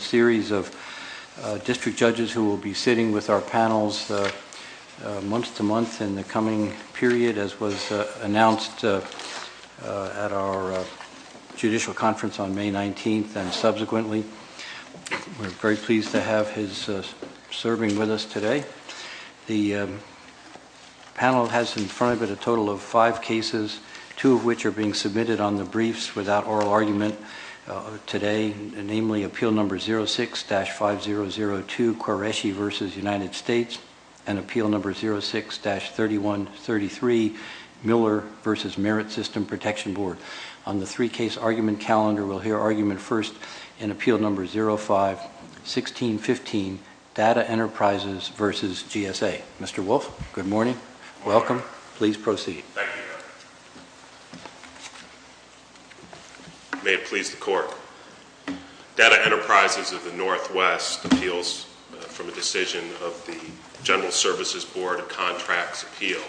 series of district judges who will be sitting with our panels month-to-month in the coming period, as was announced at our judicial conference on May 19th and subsequently. We're very pleased to have his serving with us today. The panel has in front of it a total of five cases, two of which are being submitted on the briefs without oral argument today, namely, Appeal No. 06-5002, Qureshi v. United States, and Appeal No. 06-3133, Miller v. Merit System Protection Board. On the three-case argument calendar, we'll hear argument first in Appeal No. 05-1615, Data Enterprises v. GSA. Mr. Wolf, good morning. Welcome. Please proceed. Thank you, Your Honor. May it please the Court, Data Enterprises of the Northwest appeals from a decision of the General Services Board of Contracts Appeal,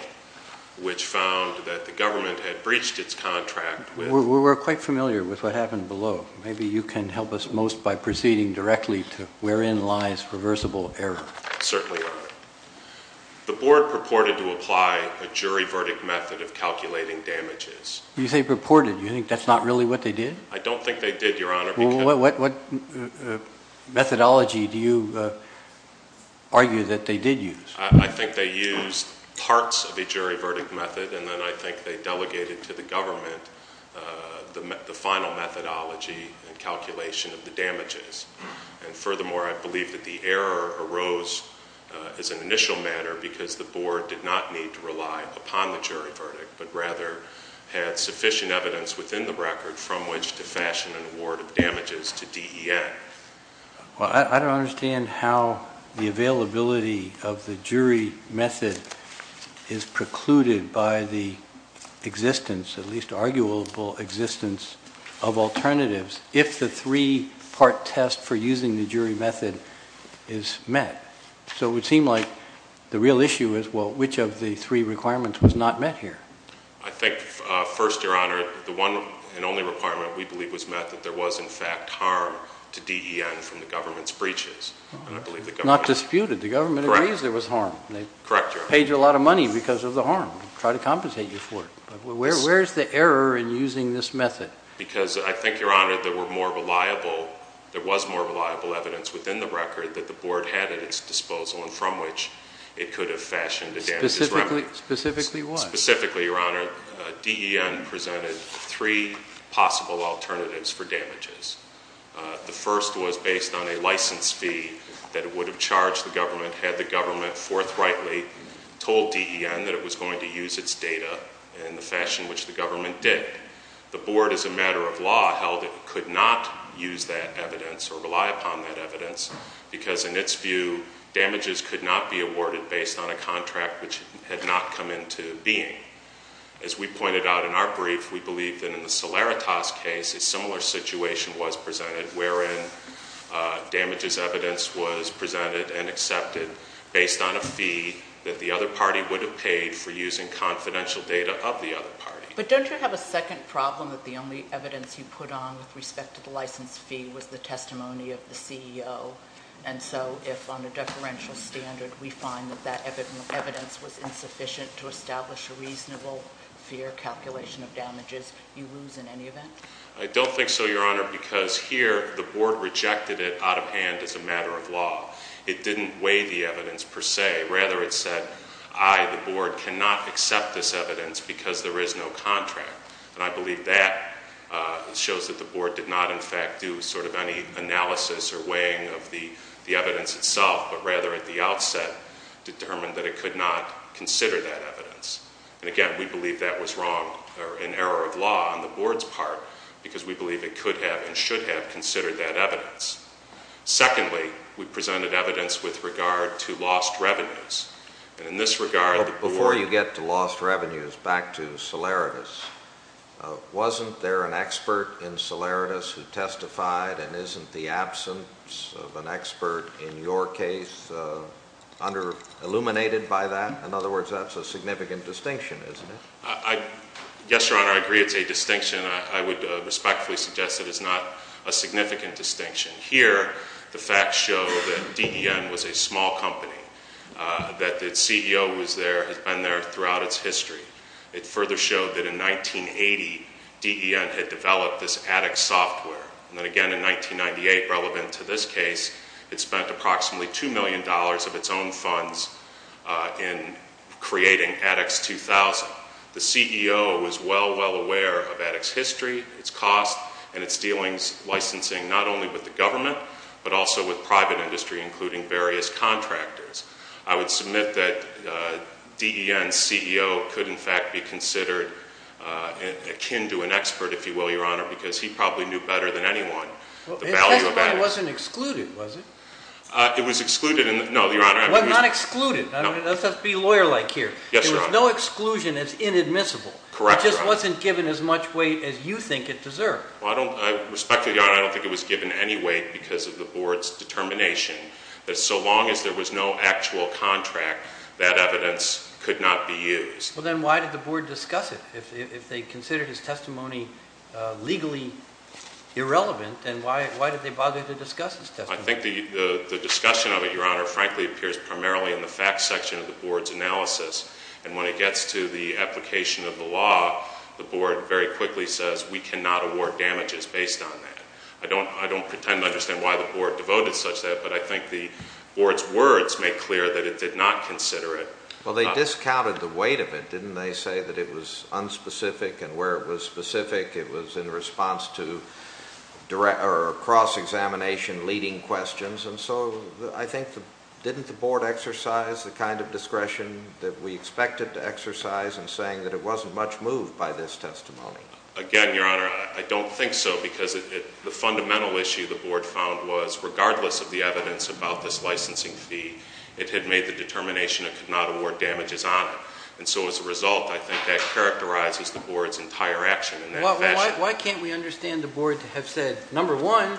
which found that the government had breached its contract with- We're quite familiar with what happened below. Maybe you can help us most by proceeding directly to wherein lies reversible error. Certainly, Your Honor. The Board purported to apply a jury verdict method of calculating damages. You say purported. You think that's not really what they did? I don't think they did, Your Honor. What methodology do you argue that they did use? I think they used parts of a jury verdict method, and then I think they delegated to the government the final methodology and calculation of the damages. And furthermore, I believe that the error arose as an initial matter because the Board did not need to rely upon the jury verdict, but rather had sufficient evidence within the record from which to fashion an award of damages to DEN. Well, I don't understand how the availability of the jury method is precluded by the existence, at least arguable existence, of alternatives. If the three-part test for using the jury method is met. So it would seem like the real issue is, well, which of the three requirements was not met here? I think, first, Your Honor, the one and only requirement we believe was met, that there was, in fact, harm to DEN from the government's breaches. And I believe the government- Not disputed. The government agrees there was harm. Correct, Your Honor. They paid you a lot of money because of the harm. Try to compensate you for it. Where's the error in using this method? Because I think, Your Honor, there were more reliable, there was more reliable evidence within the record that the Board had at its disposal and from which it could have fashioned a damages remedy. Specifically what? Specifically, Your Honor, DEN presented three possible alternatives for damages. The first was based on a license fee that it would have charged the government had the government forthrightly told DEN that it was going to use its data in the fashion which the government did. The Board, as a matter of law, held it could not use that evidence or rely upon that evidence because, in its view, damages could not be awarded based on a contract which had not come into being. As we pointed out in our brief, we believe that in the Solaritas case, a similar situation was presented wherein damages evidence was presented and accepted based on a fee that the other party would have paid for using confidential data of the other party. But don't you have a second problem that the only evidence you put on with respect to the license fee was the testimony of the CEO? And so, if on a deferential standard, we find that that evidence was insufficient to establish a reasonable fear calculation of damages, you lose in any event? I don't think so, Your Honor, because here, the Board rejected it out of hand as a matter of law. It didn't weigh the evidence per se. Rather, it said, I, the Board, cannot accept this evidence because there is no contract. And I believe that shows that the Board did not, in fact, do sort of any analysis or weighing of the evidence itself, but rather, at the outset, determined that it could not consider that evidence. And again, we believe that was wrong or an error of law on the Board's part because we believe it could have and should have considered that evidence. Secondly, we presented evidence with regard to lost revenues. And in this regard, the Board- Before you get to lost revenues, back to Solaridis. Wasn't there an expert in Solaridis who testified and isn't the absence of an expert in your case illuminated by that? In other words, that's a significant distinction, isn't it? Yes, Your Honor, I agree it's a distinction. I would respectfully suggest that it's not a significant distinction. Here, the facts show that DEN was a small company, that its CEO was there, has been there throughout its history. It further showed that in 1980, DEN had developed this Attix software. And again, in 1998, relevant to this case, it spent approximately $2 million of its own funds in creating Attix 2000. The CEO was well, well aware of Attix history, its cost, and its dealings licensing not only with the government, but also with private industry, including various contractors. I would submit that DEN's CEO could in fact be considered akin to an expert, if you will, Your Honor, because he probably knew better than anyone the value of Attix. It wasn't excluded, was it? It was excluded in the, no, Your Honor. Well, not excluded, let's be lawyer-like here. Yes, Your Honor. No exclusion is inadmissible. Correct, Your Honor. It just wasn't given as much weight as you think it deserved. Well, I don't, I respectfully, Your Honor, I don't think it was given any weight because of the board's determination that so long as there was no actual contract, that evidence could not be used. Well, then why did the board discuss it? If they considered his testimony legally irrelevant, then why did they bother to discuss his testimony? I think the discussion of it, Your Honor, frankly appears primarily in the facts section of the board's analysis. And when it gets to the application of the law, the board very quickly says, we cannot award damages based on that. I don't, I don't pretend to understand why the board devoted such that, but I think the board's words make clear that it did not consider it. Well, they discounted the weight of it, didn't they, say that it was unspecific and where it was specific, it was in response to direct, or cross-examination leading questions. And so, I think, didn't the board exercise the kind of discretion that we expected to exercise in saying that it wasn't much moved by this testimony? Again, Your Honor, I don't think so, because the fundamental issue the board found was, regardless of the evidence about this licensing fee, it had made the determination it could not award damages on it. And so as a result, I think that characterizes the board's entire action in that fashion. Why can't we understand the board to have said, number one,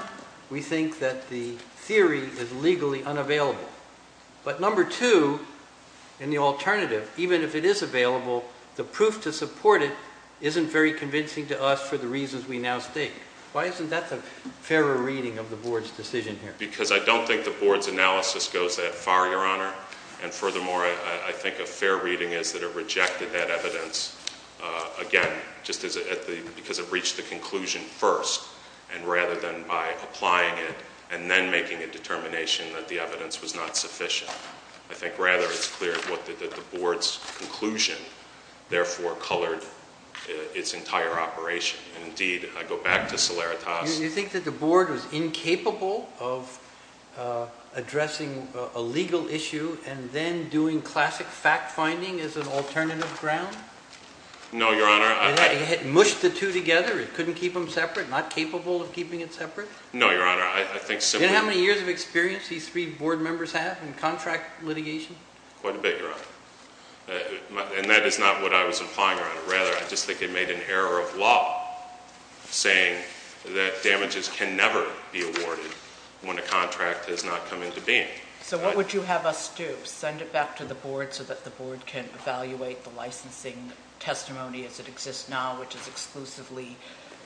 we think that the theory is legally unavailable. But number two, in the alternative, even if it is available, the proof to support it isn't very convincing to us for the reasons we now state. Why isn't that the fairer reading of the board's decision here? Because I don't think the board's analysis goes that far, Your Honor. And furthermore, I think a fair reading is that it rejected that evidence, again, just because it reached the conclusion first, and rather than by applying it, and then making a determination that the evidence was not sufficient. I think, rather, it's clear that the board's conclusion, therefore, colored its entire operation. And indeed, I go back to Solaritas. Do you think that the board was incapable of addressing a legal issue, and then doing classic fact finding as an alternative ground? No, Your Honor. It had mushed the two together, it couldn't keep them separate, not capable of keeping it separate? No, Your Honor, I think- Do you know how many years of experience these three board members have in contract litigation? Quite a bit, Your Honor, and that is not what I was implying, Your Honor. Rather, I just think it made an error of law saying that damages can never be awarded when a contract has not come into being. So what would you have us do? Send it back to the board so that the board can evaluate the licensing testimony as it exists now, which is exclusively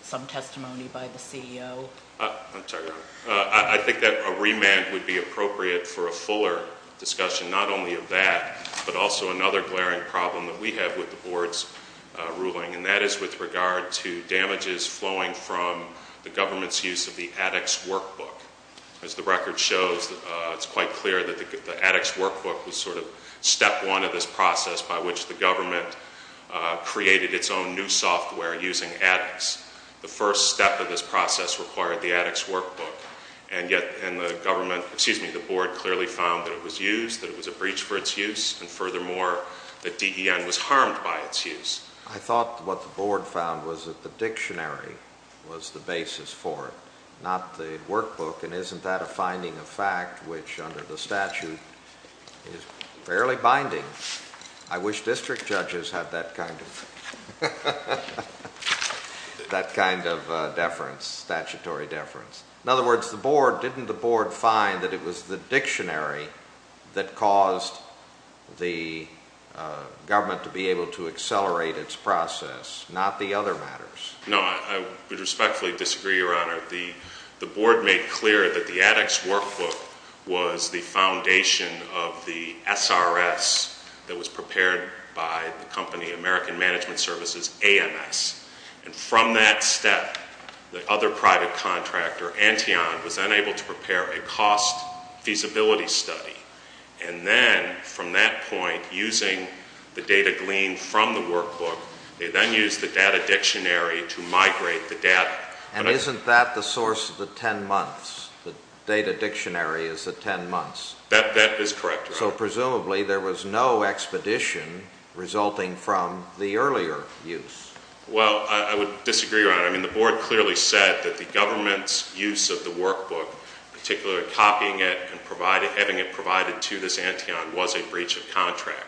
some testimony by the CEO? I'm sorry, Your Honor. I think that a remand would be appropriate for a fuller discussion, not only of that, but also another glaring problem that we have with the board's ruling. And that is with regard to damages flowing from the government's use of the addict's workbook. As the record shows, it's quite clear that the addict's workbook was sort of step one of this process by which the government created its own new software using addicts. The first step of this process required the addict's workbook. And yet, the government, excuse me, the board clearly found that it was used, that it was a breach for its use, and furthermore, that DEN was harmed by its use. I thought what the board found was that the dictionary was the basis for it, not the workbook, and isn't that a finding of fact, which under the statute is fairly binding. I wish district judges had that kind of deference, statutory deference. In other words, the board, didn't the board find that it was the dictionary that caused the government to be able to accelerate its process, not the other matters? No, I would respectfully disagree, Your Honor. The board made clear that the addict's workbook was the foundation of the SRS that was prepared by the company American Management Services, AMS. And from that step, the other private contractor, Antion, was then able to prepare a cost feasibility study. And then, from that point, using the data gleaned from the workbook, they then used the data dictionary to migrate the data. And isn't that the source of the 10 months, the data dictionary is the 10 months? That is correct, Your Honor. So, presumably, there was no expedition resulting from the earlier use. Well, I would disagree, Your Honor. I mean, the board clearly said that the government's use of the workbook, particularly copying it and having it provided to this Antion, was a breach of contract.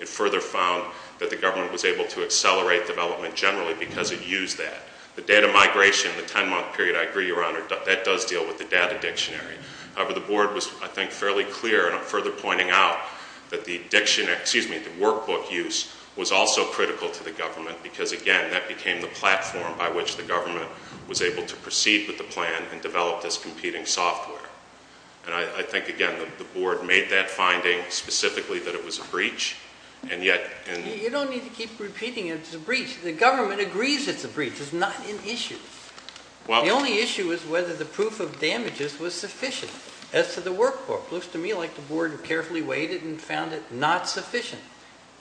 It further found that the government was able to accelerate development generally because it used that. The data migration, the 10 month period, I agree, Your Honor, that does deal with the data dictionary. However, the board was, I think, fairly clear, and I'm further pointing out that the workbook use was also critical to the government. Because again, that became the platform by which the government was able to proceed with the plan and develop this competing software. And I think, again, the board made that finding specifically that it was a breach, and yet- You don't need to keep repeating it's a breach. The government agrees it's a breach. It's not an issue. The only issue is whether the proof of damages was sufficient. As to the workbook, looks to me like the board carefully weighed it and found it not sufficient.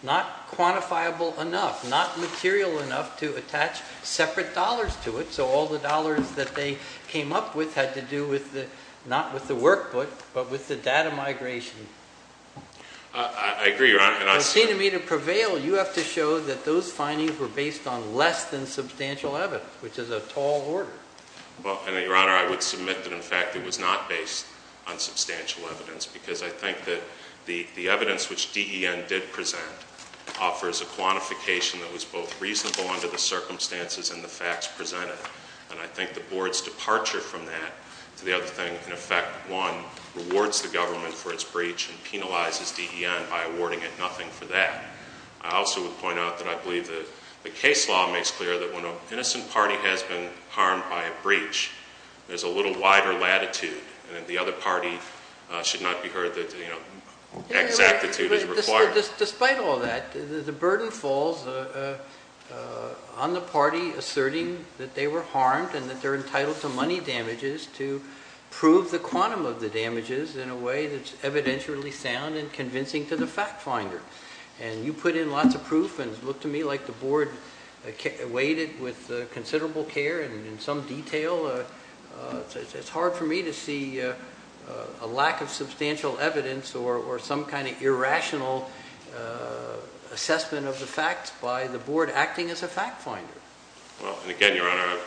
Not quantifiable enough, not material enough to attach separate dollars to it. So, all the dollars that they came up with had to do with the, not with the workbook, but with the data migration. I agree, Your Honor, and I- For me to prevail, you have to show that those findings were based on less than substantial evidence, which is a tall order. Well, and Your Honor, I would submit that in fact it was not based on substantial evidence. Because I think that the evidence which DEN did present offers a quantification that was both reasonable under the circumstances and the facts presented. And I think the board's departure from that to the other thing, in effect, one, rewards the government for its breach and penalizes DEN by awarding it nothing for that. I also would point out that I believe that the case law makes clear that when an innocent party has been harmed by a breach, there's a little wider latitude, and that the other party should not be heard that the exactitude is required. Despite all that, the burden falls on the party asserting that they were harmed and that they're entitled to money damages to prove the quantum of the damages in a way that's evidentially sound and convincing to the fact finder. And you put in lots of proof and look to me like the board waited with considerable care and in some detail, it's hard for me to see a lack of substantial evidence or some kind of irrational assessment of the facts by the board acting as a fact finder. Well, and again, your honor,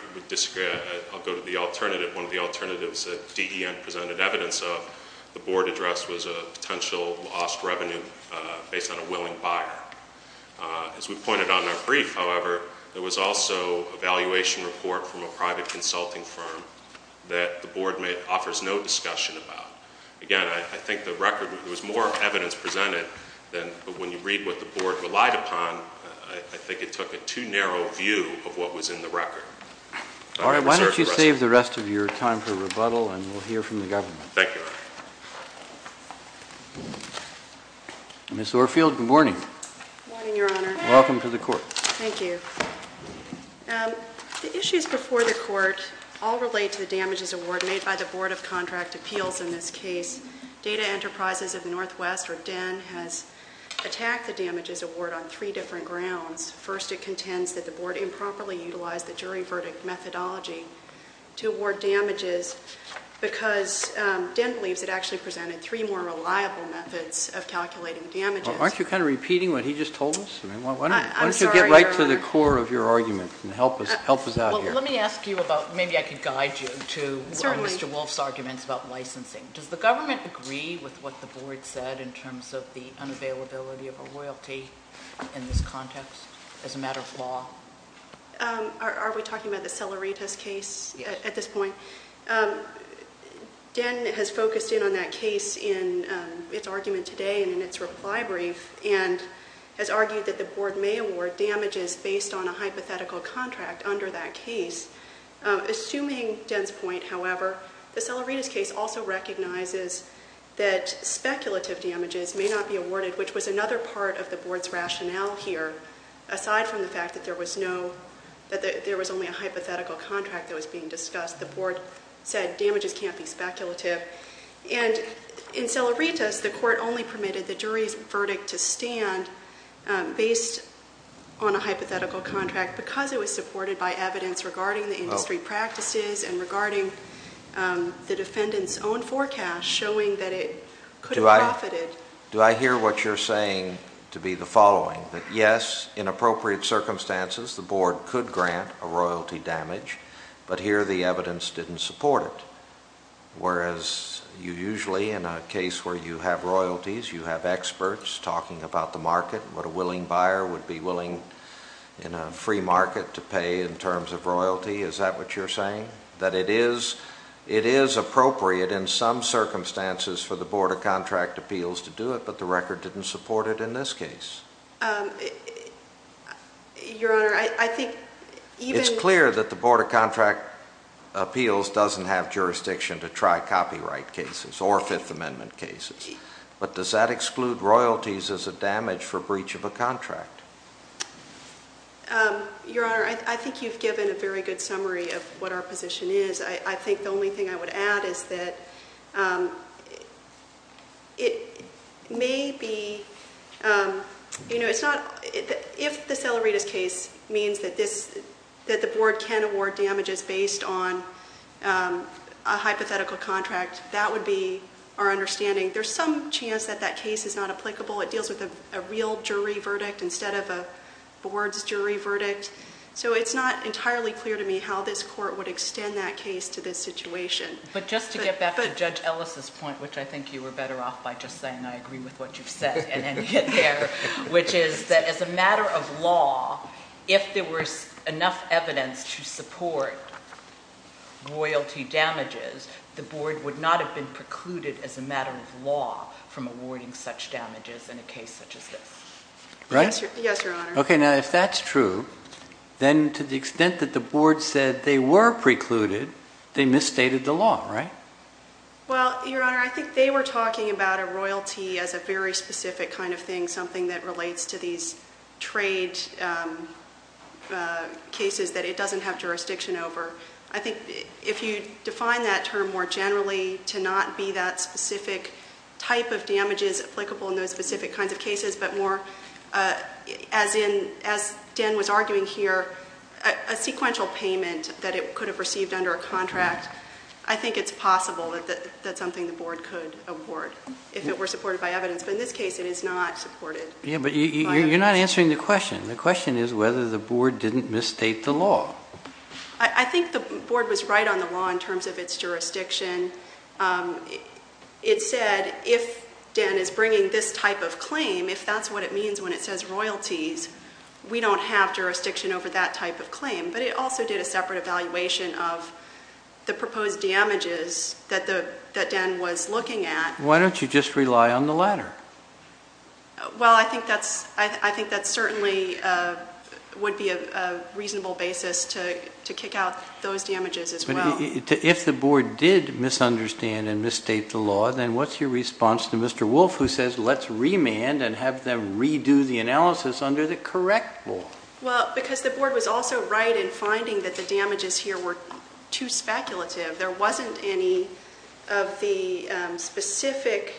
I'll go to the alternative. One of the alternatives that DEN presented evidence of, the board address was a potential lost revenue based on a willing buyer. As we pointed out in our brief, however, there was also a valuation report from a private consulting firm that the board offers no discussion about. Again, I think the record, there was more evidence presented, but when you read what the board relied upon, I think it took a too narrow view of what was in the record. All right, why don't you save the rest of your time for rebuttal and we'll hear from the government. Thank you, your honor. Ms. Orfield, good morning. Good morning, your honor. Welcome to the court. Thank you. The issues before the court all relate to the damages award made by the Board of Contract Appeals in this case. Data Enterprises of the Northwest, or DEN, has attacked the damages award on three different grounds. First, it contends that the board improperly utilized the jury verdict methodology to award damages, because DEN believes it actually presented three more reliable methods of calculating damages. Aren't you kind of repeating what he just told us? I'm sorry. Why don't you get right to the core of your argument and help us out here. Well, let me ask you about, maybe I could guide you to learn Mr. Wolf's arguments about licensing. Does the government agree with what the board said in terms of the unavailability of a royalty in this context as a matter of law? Are we talking about the Salaritas case at this point? DEN has focused in on that case in its argument today and in its reply brief, and has argued that the board may award damages based on a hypothetical contract under that case. Assuming DEN's point, however, the Salaritas case also recognizes that speculative damages may not be awarded, which was another part of the board's rationale here, aside from the fact that there was only a hypothetical contract that was being discussed. The board said damages can't be speculative. And in Salaritas, the court only permitted the jury's verdict to stand based on a hypothetical contract because it was supported by evidence regarding the industry practices and regarding the defendant's own forecast showing that it could have profited. Do I hear what you're saying to be the following, that yes, in appropriate circumstances, the board could grant a royalty damage. But here, the evidence didn't support it. Whereas, you usually, in a case where you have royalties, you have experts talking about the market, what a willing buyer would be willing in a free market to pay in terms of royalty, is that what you're saying? That it is appropriate in some circumstances for the board of contract appeals to do it, but the record didn't support it in this case? Your Honor, I think even- It's clear that the Board of Contract Appeals doesn't have jurisdiction to try copyright cases or Fifth Amendment cases, but does that exclude royalties as a damage for breach of a contract? Your Honor, I think you've given a very good summary of what our position is. I think the only thing I would add is that it may be, if the Seller-Reedis case means that the board can award damages based on a hypothetical contract, that would be our understanding, there's some chance that that case is not applicable. It deals with a real jury verdict instead of a board's jury verdict. So it's not entirely clear to me how this court would extend that case to this situation. But just to get back to Judge Ellis' point, which I think you were better off by just saying, I agree with what you've said and then get there, which is that as a matter of law, if there was enough evidence to support royalty damages, the board would not have been precluded as a matter of law from awarding such damages in a case such as this. Right? Yes, Your Honor. Okay, now if that's true, then to the extent that the board said they were precluded, they misstated the law, right? Well, Your Honor, I think they were talking about a royalty as a very specific kind of thing, something that relates to these trade cases that it doesn't have jurisdiction over. I think if you define that term more generally to not be that specific type of damages applicable in those specific kinds of cases, but more as in, as Dan was arguing here, a sequential payment that it could have received under a contract, I think it's possible that that's something the board could award if it were supported by evidence. But in this case, it is not supported. Yeah, but you're not answering the question. The question is whether the board didn't misstate the law. I think the board was right on the law in terms of its jurisdiction. It said if Dan is bringing this type of claim, if that's what it means when it says royalties, we don't have jurisdiction over that type of claim. But it also did a separate evaluation of the proposed damages that Dan was looking at. Why don't you just rely on the latter? Well, I think that certainly would be a reasonable basis to kick out those damages as well. If the board did misunderstand and misstate the law, then what's your response to Mr. And have them redo the analysis under the correct law? Well, because the board was also right in finding that the damages here were too speculative. There wasn't any of the specific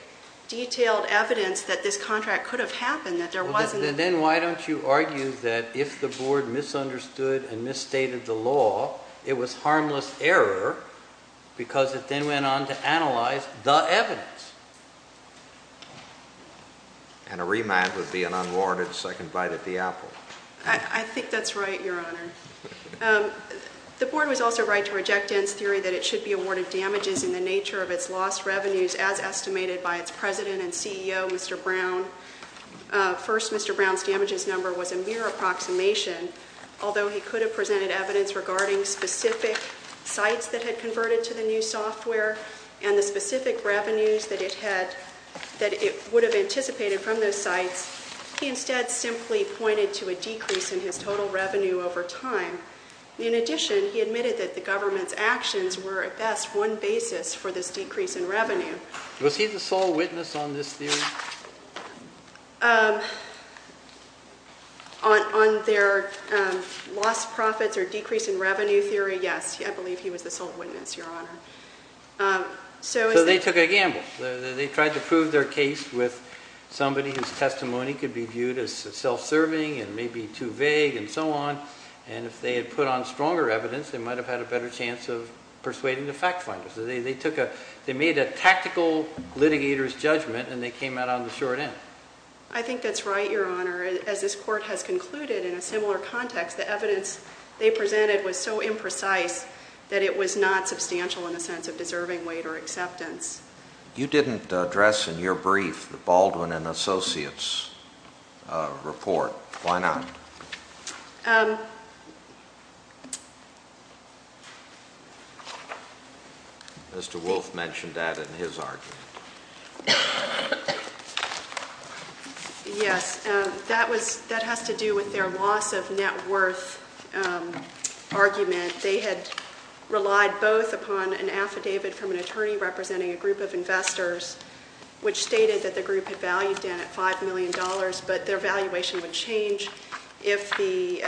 detailed evidence that this contract could have happened. That there wasn't- Then why don't you argue that if the board misunderstood and misstated the law, it was harmless error because it then went on to analyze the evidence. And a remand would be an unwarranted second bite at the apple. I think that's right, your honor. The board was also right to reject Dan's theory that it should be awarded damages in the nature of its lost revenues as estimated by its president and CEO, Mr. Brown. First, Mr. Brown's damages number was a mere approximation, although he could have presented evidence regarding specific sites that had converted to the new software. And the specific revenues that it would have anticipated from those sites. He instead simply pointed to a decrease in his total revenue over time. In addition, he admitted that the government's actions were, at best, one basis for this decrease in revenue. Was he the sole witness on this theory? On their lost profits or decrease in revenue theory, yes. I believe he was the sole witness, your honor. So they took a gamble. They tried to prove their case with somebody whose testimony could be viewed as self-serving and maybe too vague and so on. And if they had put on stronger evidence, they might have had a better chance of persuading the fact finders. They made a tactical litigator's judgment and they came out on the short end. I think that's right, your honor. As this court has concluded in a similar context, the evidence they presented was so imprecise that it was not substantial in the sense of deserving weight or acceptance. You didn't address in your brief the Baldwin and Associates report. Why not? Mr. Wolfe mentioned that in his argument. Yes, that has to do with their loss of net worth argument. They had relied both upon an affidavit from an attorney representing a group of investors, which stated that the group had valued in at $5 million, but their valuation would change if the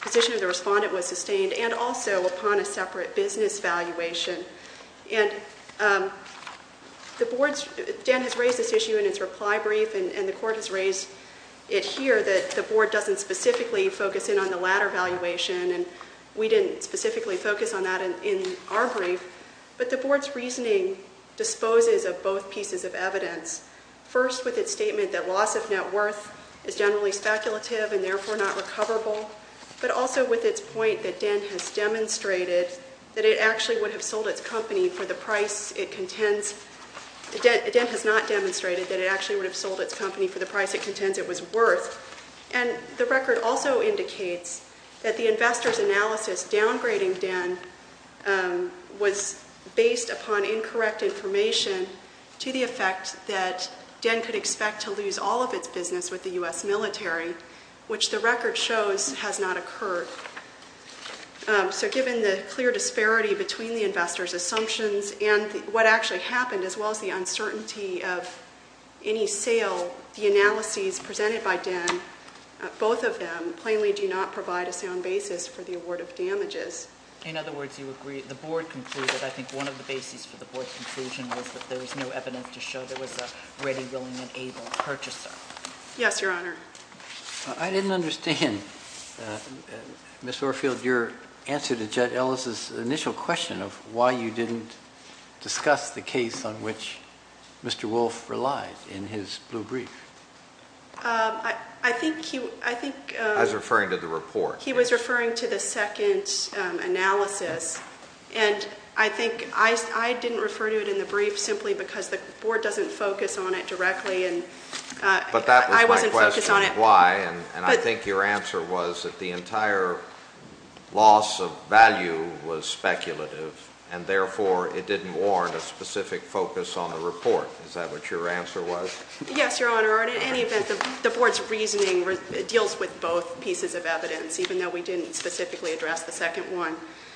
position of the respondent was sustained, and also upon a separate business valuation. And Dan has raised this issue in his reply brief, and the court has raised it here, that the board doesn't specifically focus in on the latter valuation, and we didn't specifically focus on that in our brief. But the board's reasoning disposes of both pieces of evidence. First, with its statement that loss of net worth is generally speculative and therefore not recoverable, but also with its point that Dan has demonstrated that it actually would have sold its company for the price it contends. Dan has not demonstrated that it actually would have sold its company for the price it contends it was worth. And the record also indicates that the investor's analysis downgrading Dan was based upon incorrect information to the effect that Dan could expect to lose all of its business with the US military, which the record shows has not occurred. So given the clear disparity between the investor's assumptions and what actually happened, as well as the uncertainty of any sale, the analyses presented by Dan, both of them, plainly do not provide a sound basis for the award of damages. In other words, you agree, the board concluded, I think one of the bases for the board's conclusion was that there was no evidence to show there was a ready, willing, and able purchaser. Yes, your honor. I didn't understand, Ms. Orfield, your answer to Judge Ellis' initial question of why you didn't discuss the case on which Mr. Wolfe relied in his blue brief. I think he, I think- I was referring to the report. He was referring to the second analysis. And I think, I didn't refer to it in the brief, simply because the board doesn't focus on it directly and- Why? And I think your answer was that the entire loss of value was speculative. And therefore, it didn't warrant a specific focus on the report. Is that what your answer was? Yes, your honor. Or in any event, the board's reasoning deals with both pieces of evidence, even though we didn't specifically address the second one.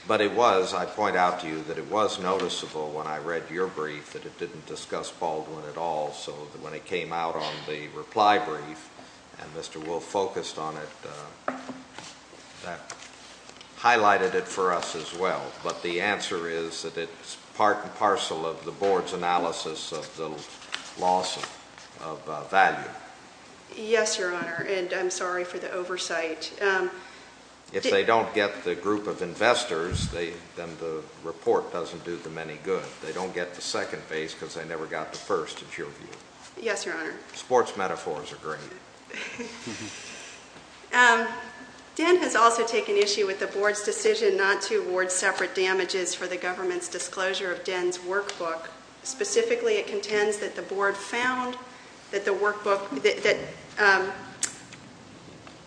But it was, I point out to you that it was noticeable when I read your brief that it didn't discuss Baldwin at all. So when it came out on the reply brief, and Mr. Wolfe focused on it, that highlighted it for us as well. But the answer is that it's part and parcel of the board's analysis of the loss of value. Yes, your honor, and I'm sorry for the oversight. If they don't get the group of investors, then the report doesn't do them any good. They don't get the second base because they never got the first, in your view. Yes, your honor. Sports metaphors are great. DEN has also taken issue with the board's decision not to award separate damages for the government's disclosure of DEN's workbook. Specifically, it contends that the board found that the workbook,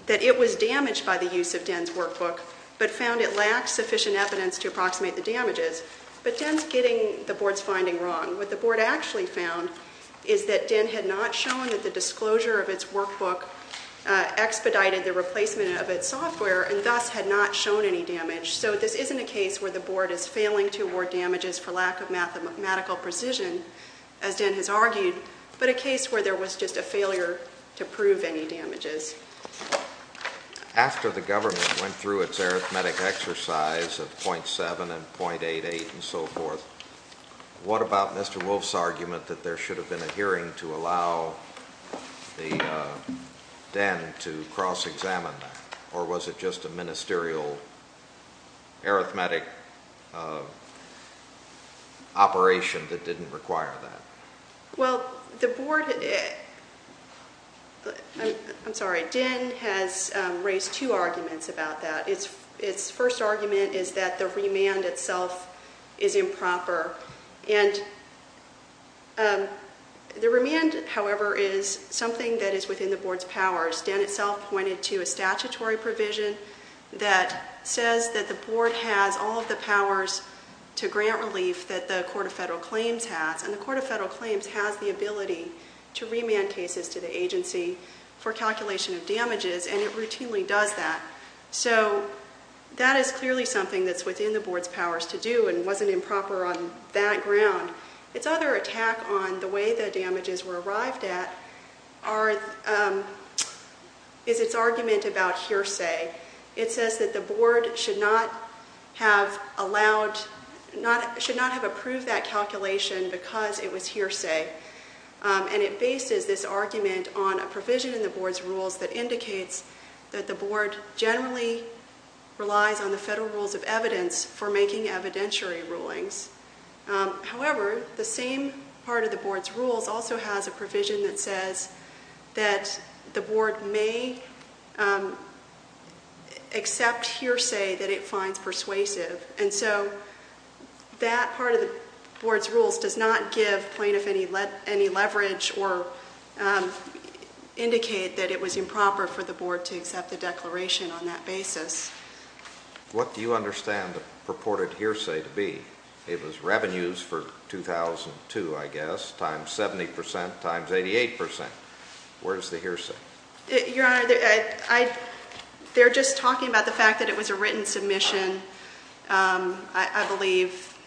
that it was damaged by the use of DEN's workbook, but found it lacked sufficient evidence to approximate the damages. But DEN's getting the board's finding wrong. What the board actually found is that DEN had not shown that the disclosure of its workbook expedited the replacement of its software and thus had not shown any damage. So this isn't a case where the board is failing to award damages for lack of mathematical precision, as DEN has argued, but a case where there was just a failure to prove any damages. After the government went through its arithmetic exercise of 0.7 and 0.88 and so forth, what about Mr. Wolf's argument that there should have been a hearing to allow the DEN to cross-examine that, or was it just a ministerial arithmetic operation that didn't require that? Well, the board, I'm sorry, DEN has raised two arguments about that. Its first argument is that the remand itself is improper. And the remand, however, is something that is within the board's powers. DEN itself pointed to a statutory provision that says that the board has all of the powers to grant relief that the Court of Federal Claims has. And the Court of Federal Claims has the ability to remand cases to the agency for calculation of damages, and it routinely does that. So that is clearly something that's within the board's powers to do and wasn't improper on that ground. Its other attack on the way the damages were arrived at is its argument about hearsay. It says that the board should not have approved that calculation because it was hearsay. And it bases this argument on a provision in the board's rules that indicates that the board generally relies on the federal rules of evidence for making evidentiary rulings. However, the same part of the board's rules also has a provision that says that the board may accept hearsay that it finds persuasive. And so that part of the board's rules does not give plaintiff any leverage or indicate that it was improper for the board to accept the declaration on that basis. What do you understand the purported hearsay to be? It was revenues for 2002, I guess, times 70% times 88%. Where's the hearsay? Your Honor, they're just talking about the fact that it was a written submission. I believe,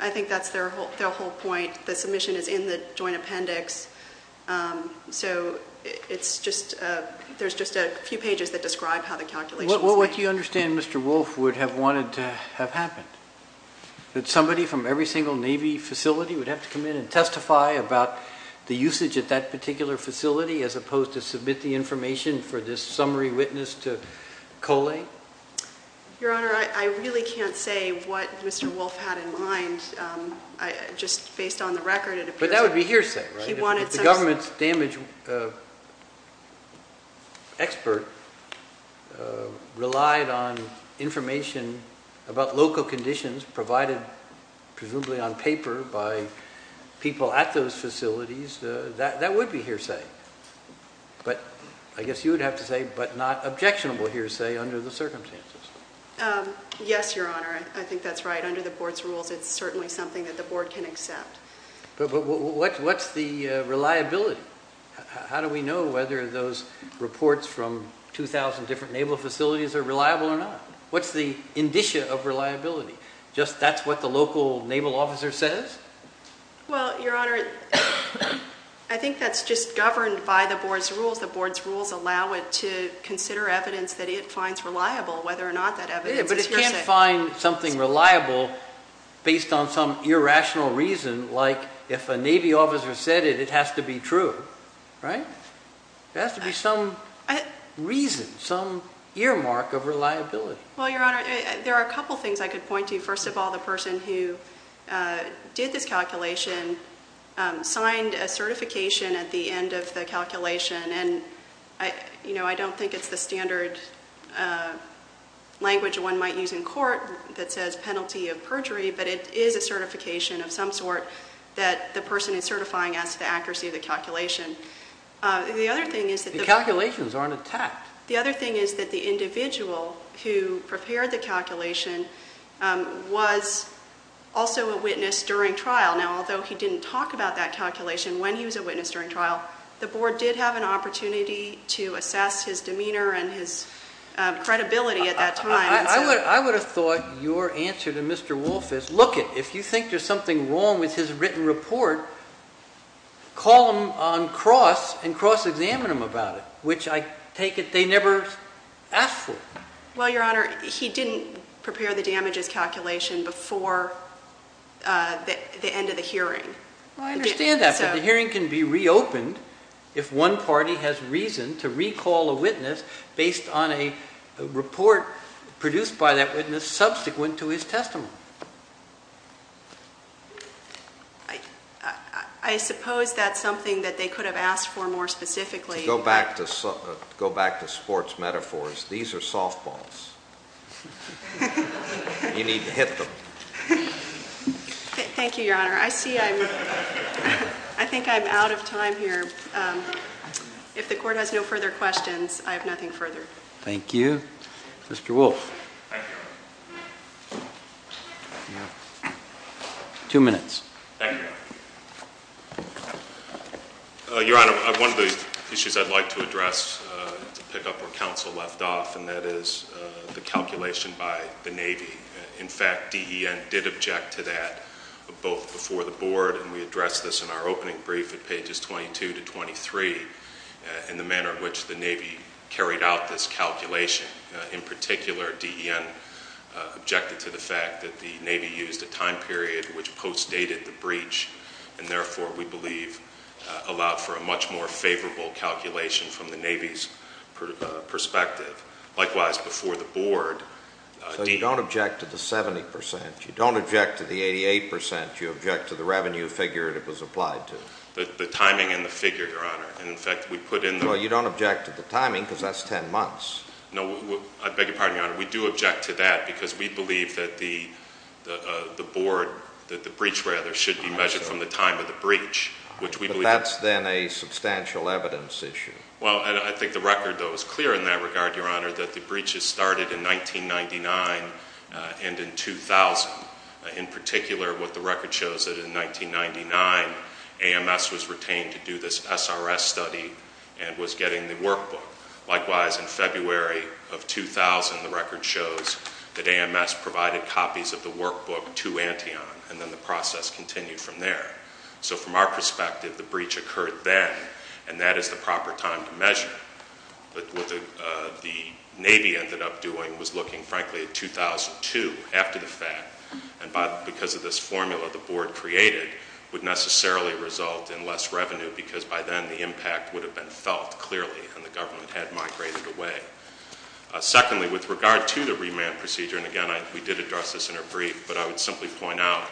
I think that's their whole point. The submission is in the joint appendix. So it's just, there's just a few pages that describe how the calculations- What do you understand Mr. Wolf would have wanted to have happened? That somebody from every single Navy facility would have to come in and testify about the usage at that particular facility as opposed to submit the information for this summary witness to Kolei? Your Honor, I really can't say what Mr. Wolf had in mind. Just based on the record, it appears- But that would be hearsay, right? If the government's damage expert relied on information about local conditions provided presumably on paper by people at those facilities, that would be hearsay. But I guess you would have to say, but not objectionable hearsay under the circumstances. Yes, Your Honor, I think that's right. Under the board's rules, it's certainly something that the board can accept. But what's the reliability? How do we know whether those reports from 2,000 different naval facilities are reliable or not? What's the indicia of reliability? Just that's what the local naval officer says? Well, Your Honor, I think that's just governed by the board's rules. The board's rules allow it to consider evidence that it finds reliable, whether or not that evidence is hearsay. Yeah, but it can't find something reliable based on some irrational reason, like if a Navy officer said it, it has to be true, right? There has to be some reason, some earmark of reliability. Well, Your Honor, there are a couple things I could point to. First of all, the person who did this calculation signed a certification at the end of the calculation. And I don't think it's the standard language one might use in court that says penalty of perjury. But it is a certification of some sort that the person is certifying as to the accuracy of the calculation. The other thing is that the- The calculations aren't attacked. The other thing is that the individual who prepared the calculation was also a witness during trial. Now, although he didn't talk about that calculation when he was a witness during trial, the board did have an opportunity to assess his demeanor and his credibility at that time. I would have thought your answer to Mr. Wolf is, look it, if you think there's something wrong with his written report, call him on cross and cross-examine him about it, which I take it they never asked for. Well, Your Honor, he didn't prepare the damages calculation before the end of the hearing. Well, I understand that, but the hearing can be reopened if one party has reason to recall a witness based on a report produced by that witness subsequent to his testimony. I suppose that's something that they could have asked for more specifically. To go back to sports metaphors, these are softballs. You need to hit them. Thank you, Your Honor. I think I'm out of time here. If the court has no further questions, I have nothing further. Thank you. Mr. Wolf. Thank you. Two minutes. Thank you. Your Honor, one of the issues I'd like to address to pick up where counsel left off, and that is the calculation by the Navy. In fact, DEN did object to that, both before the Board, and we addressed this in our opening brief at pages 22 to 23, in the manner in which the Navy carried out this calculation. In particular, DEN objected to the fact that the Navy used a time period which postdated the breach and therefore, we believe, allowed for a much more favorable calculation from the Navy's perspective. Likewise, before the Board, DEN... So you don't object to the 70 percent? You don't object to the 88 percent? You object to the revenue figure that was applied to? The timing and the figure, Your Honor. And in fact, we put in the... Well, you don't object to the timing because that's 10 months. No, I beg your pardon, Your Honor. We do object to that because we believe that the Board, that the breach, rather, should be measured from the time of the breach. But that's then a substantial evidence issue. Well, I think the record, though, is clear in that regard, Your Honor, that the breaches started in 1999 and in 2000. In particular, what the record shows is that in 1999, AMS was retained to do this SRS study and was getting the workbook. Likewise, in February of 2000, the record shows that AMS provided copies of the workbook to Antion, and then the process continued from there. So from our perspective, the breach occurred then, and that is the proper time to measure. But what the Navy ended up doing was looking, frankly, at 2002, after the fact, and because of this formula the Board created, would necessarily result in less revenue, because by then the impact would have been felt clearly, and the government had migrated away. Secondly, with regard to the remand procedure, and again, we did address this in our brief, but I would simply point out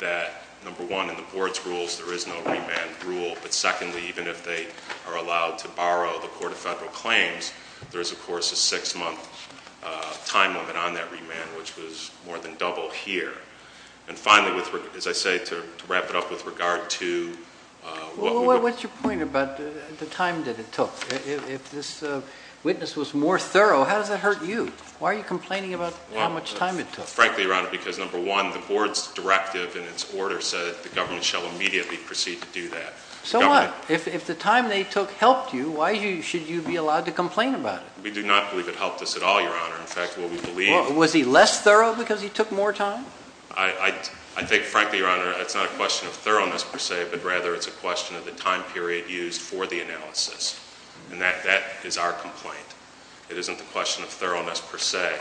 that, number one, in the Board's rules there is no remand rule, but secondly, even if they are allowed to borrow the Court of Federal Claims, there is, of course, a six-month time limit on that remand, which was more than double here. And finally, as I say, to wrap it up with regard to... Well, what's your point about the time that it took? If this witness was more thorough, how does that hurt you? Why are you complaining about how much time it took? Frankly, Your Honor, because, number one, the Board's directive in its order said the government shall immediately proceed to do that. So what? If the time they took helped you, why should you be allowed to complain about it? We do not believe it helped us at all, Your Honor. In fact, what we believe... Was he less thorough because he took more time? I think, frankly, Your Honor, it's not a question of thoroughness, per se, but rather it's a question of the time period used for the analysis. And that is our complaint. It isn't a question of thoroughness, per se.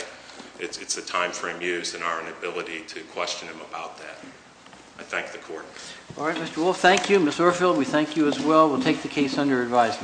It's the time frame used and our inability to question him about that. I thank the Court. All right, Mr. Wolf, thank you. Ms. Urfield, we thank you as well. We'll take the case under advisement.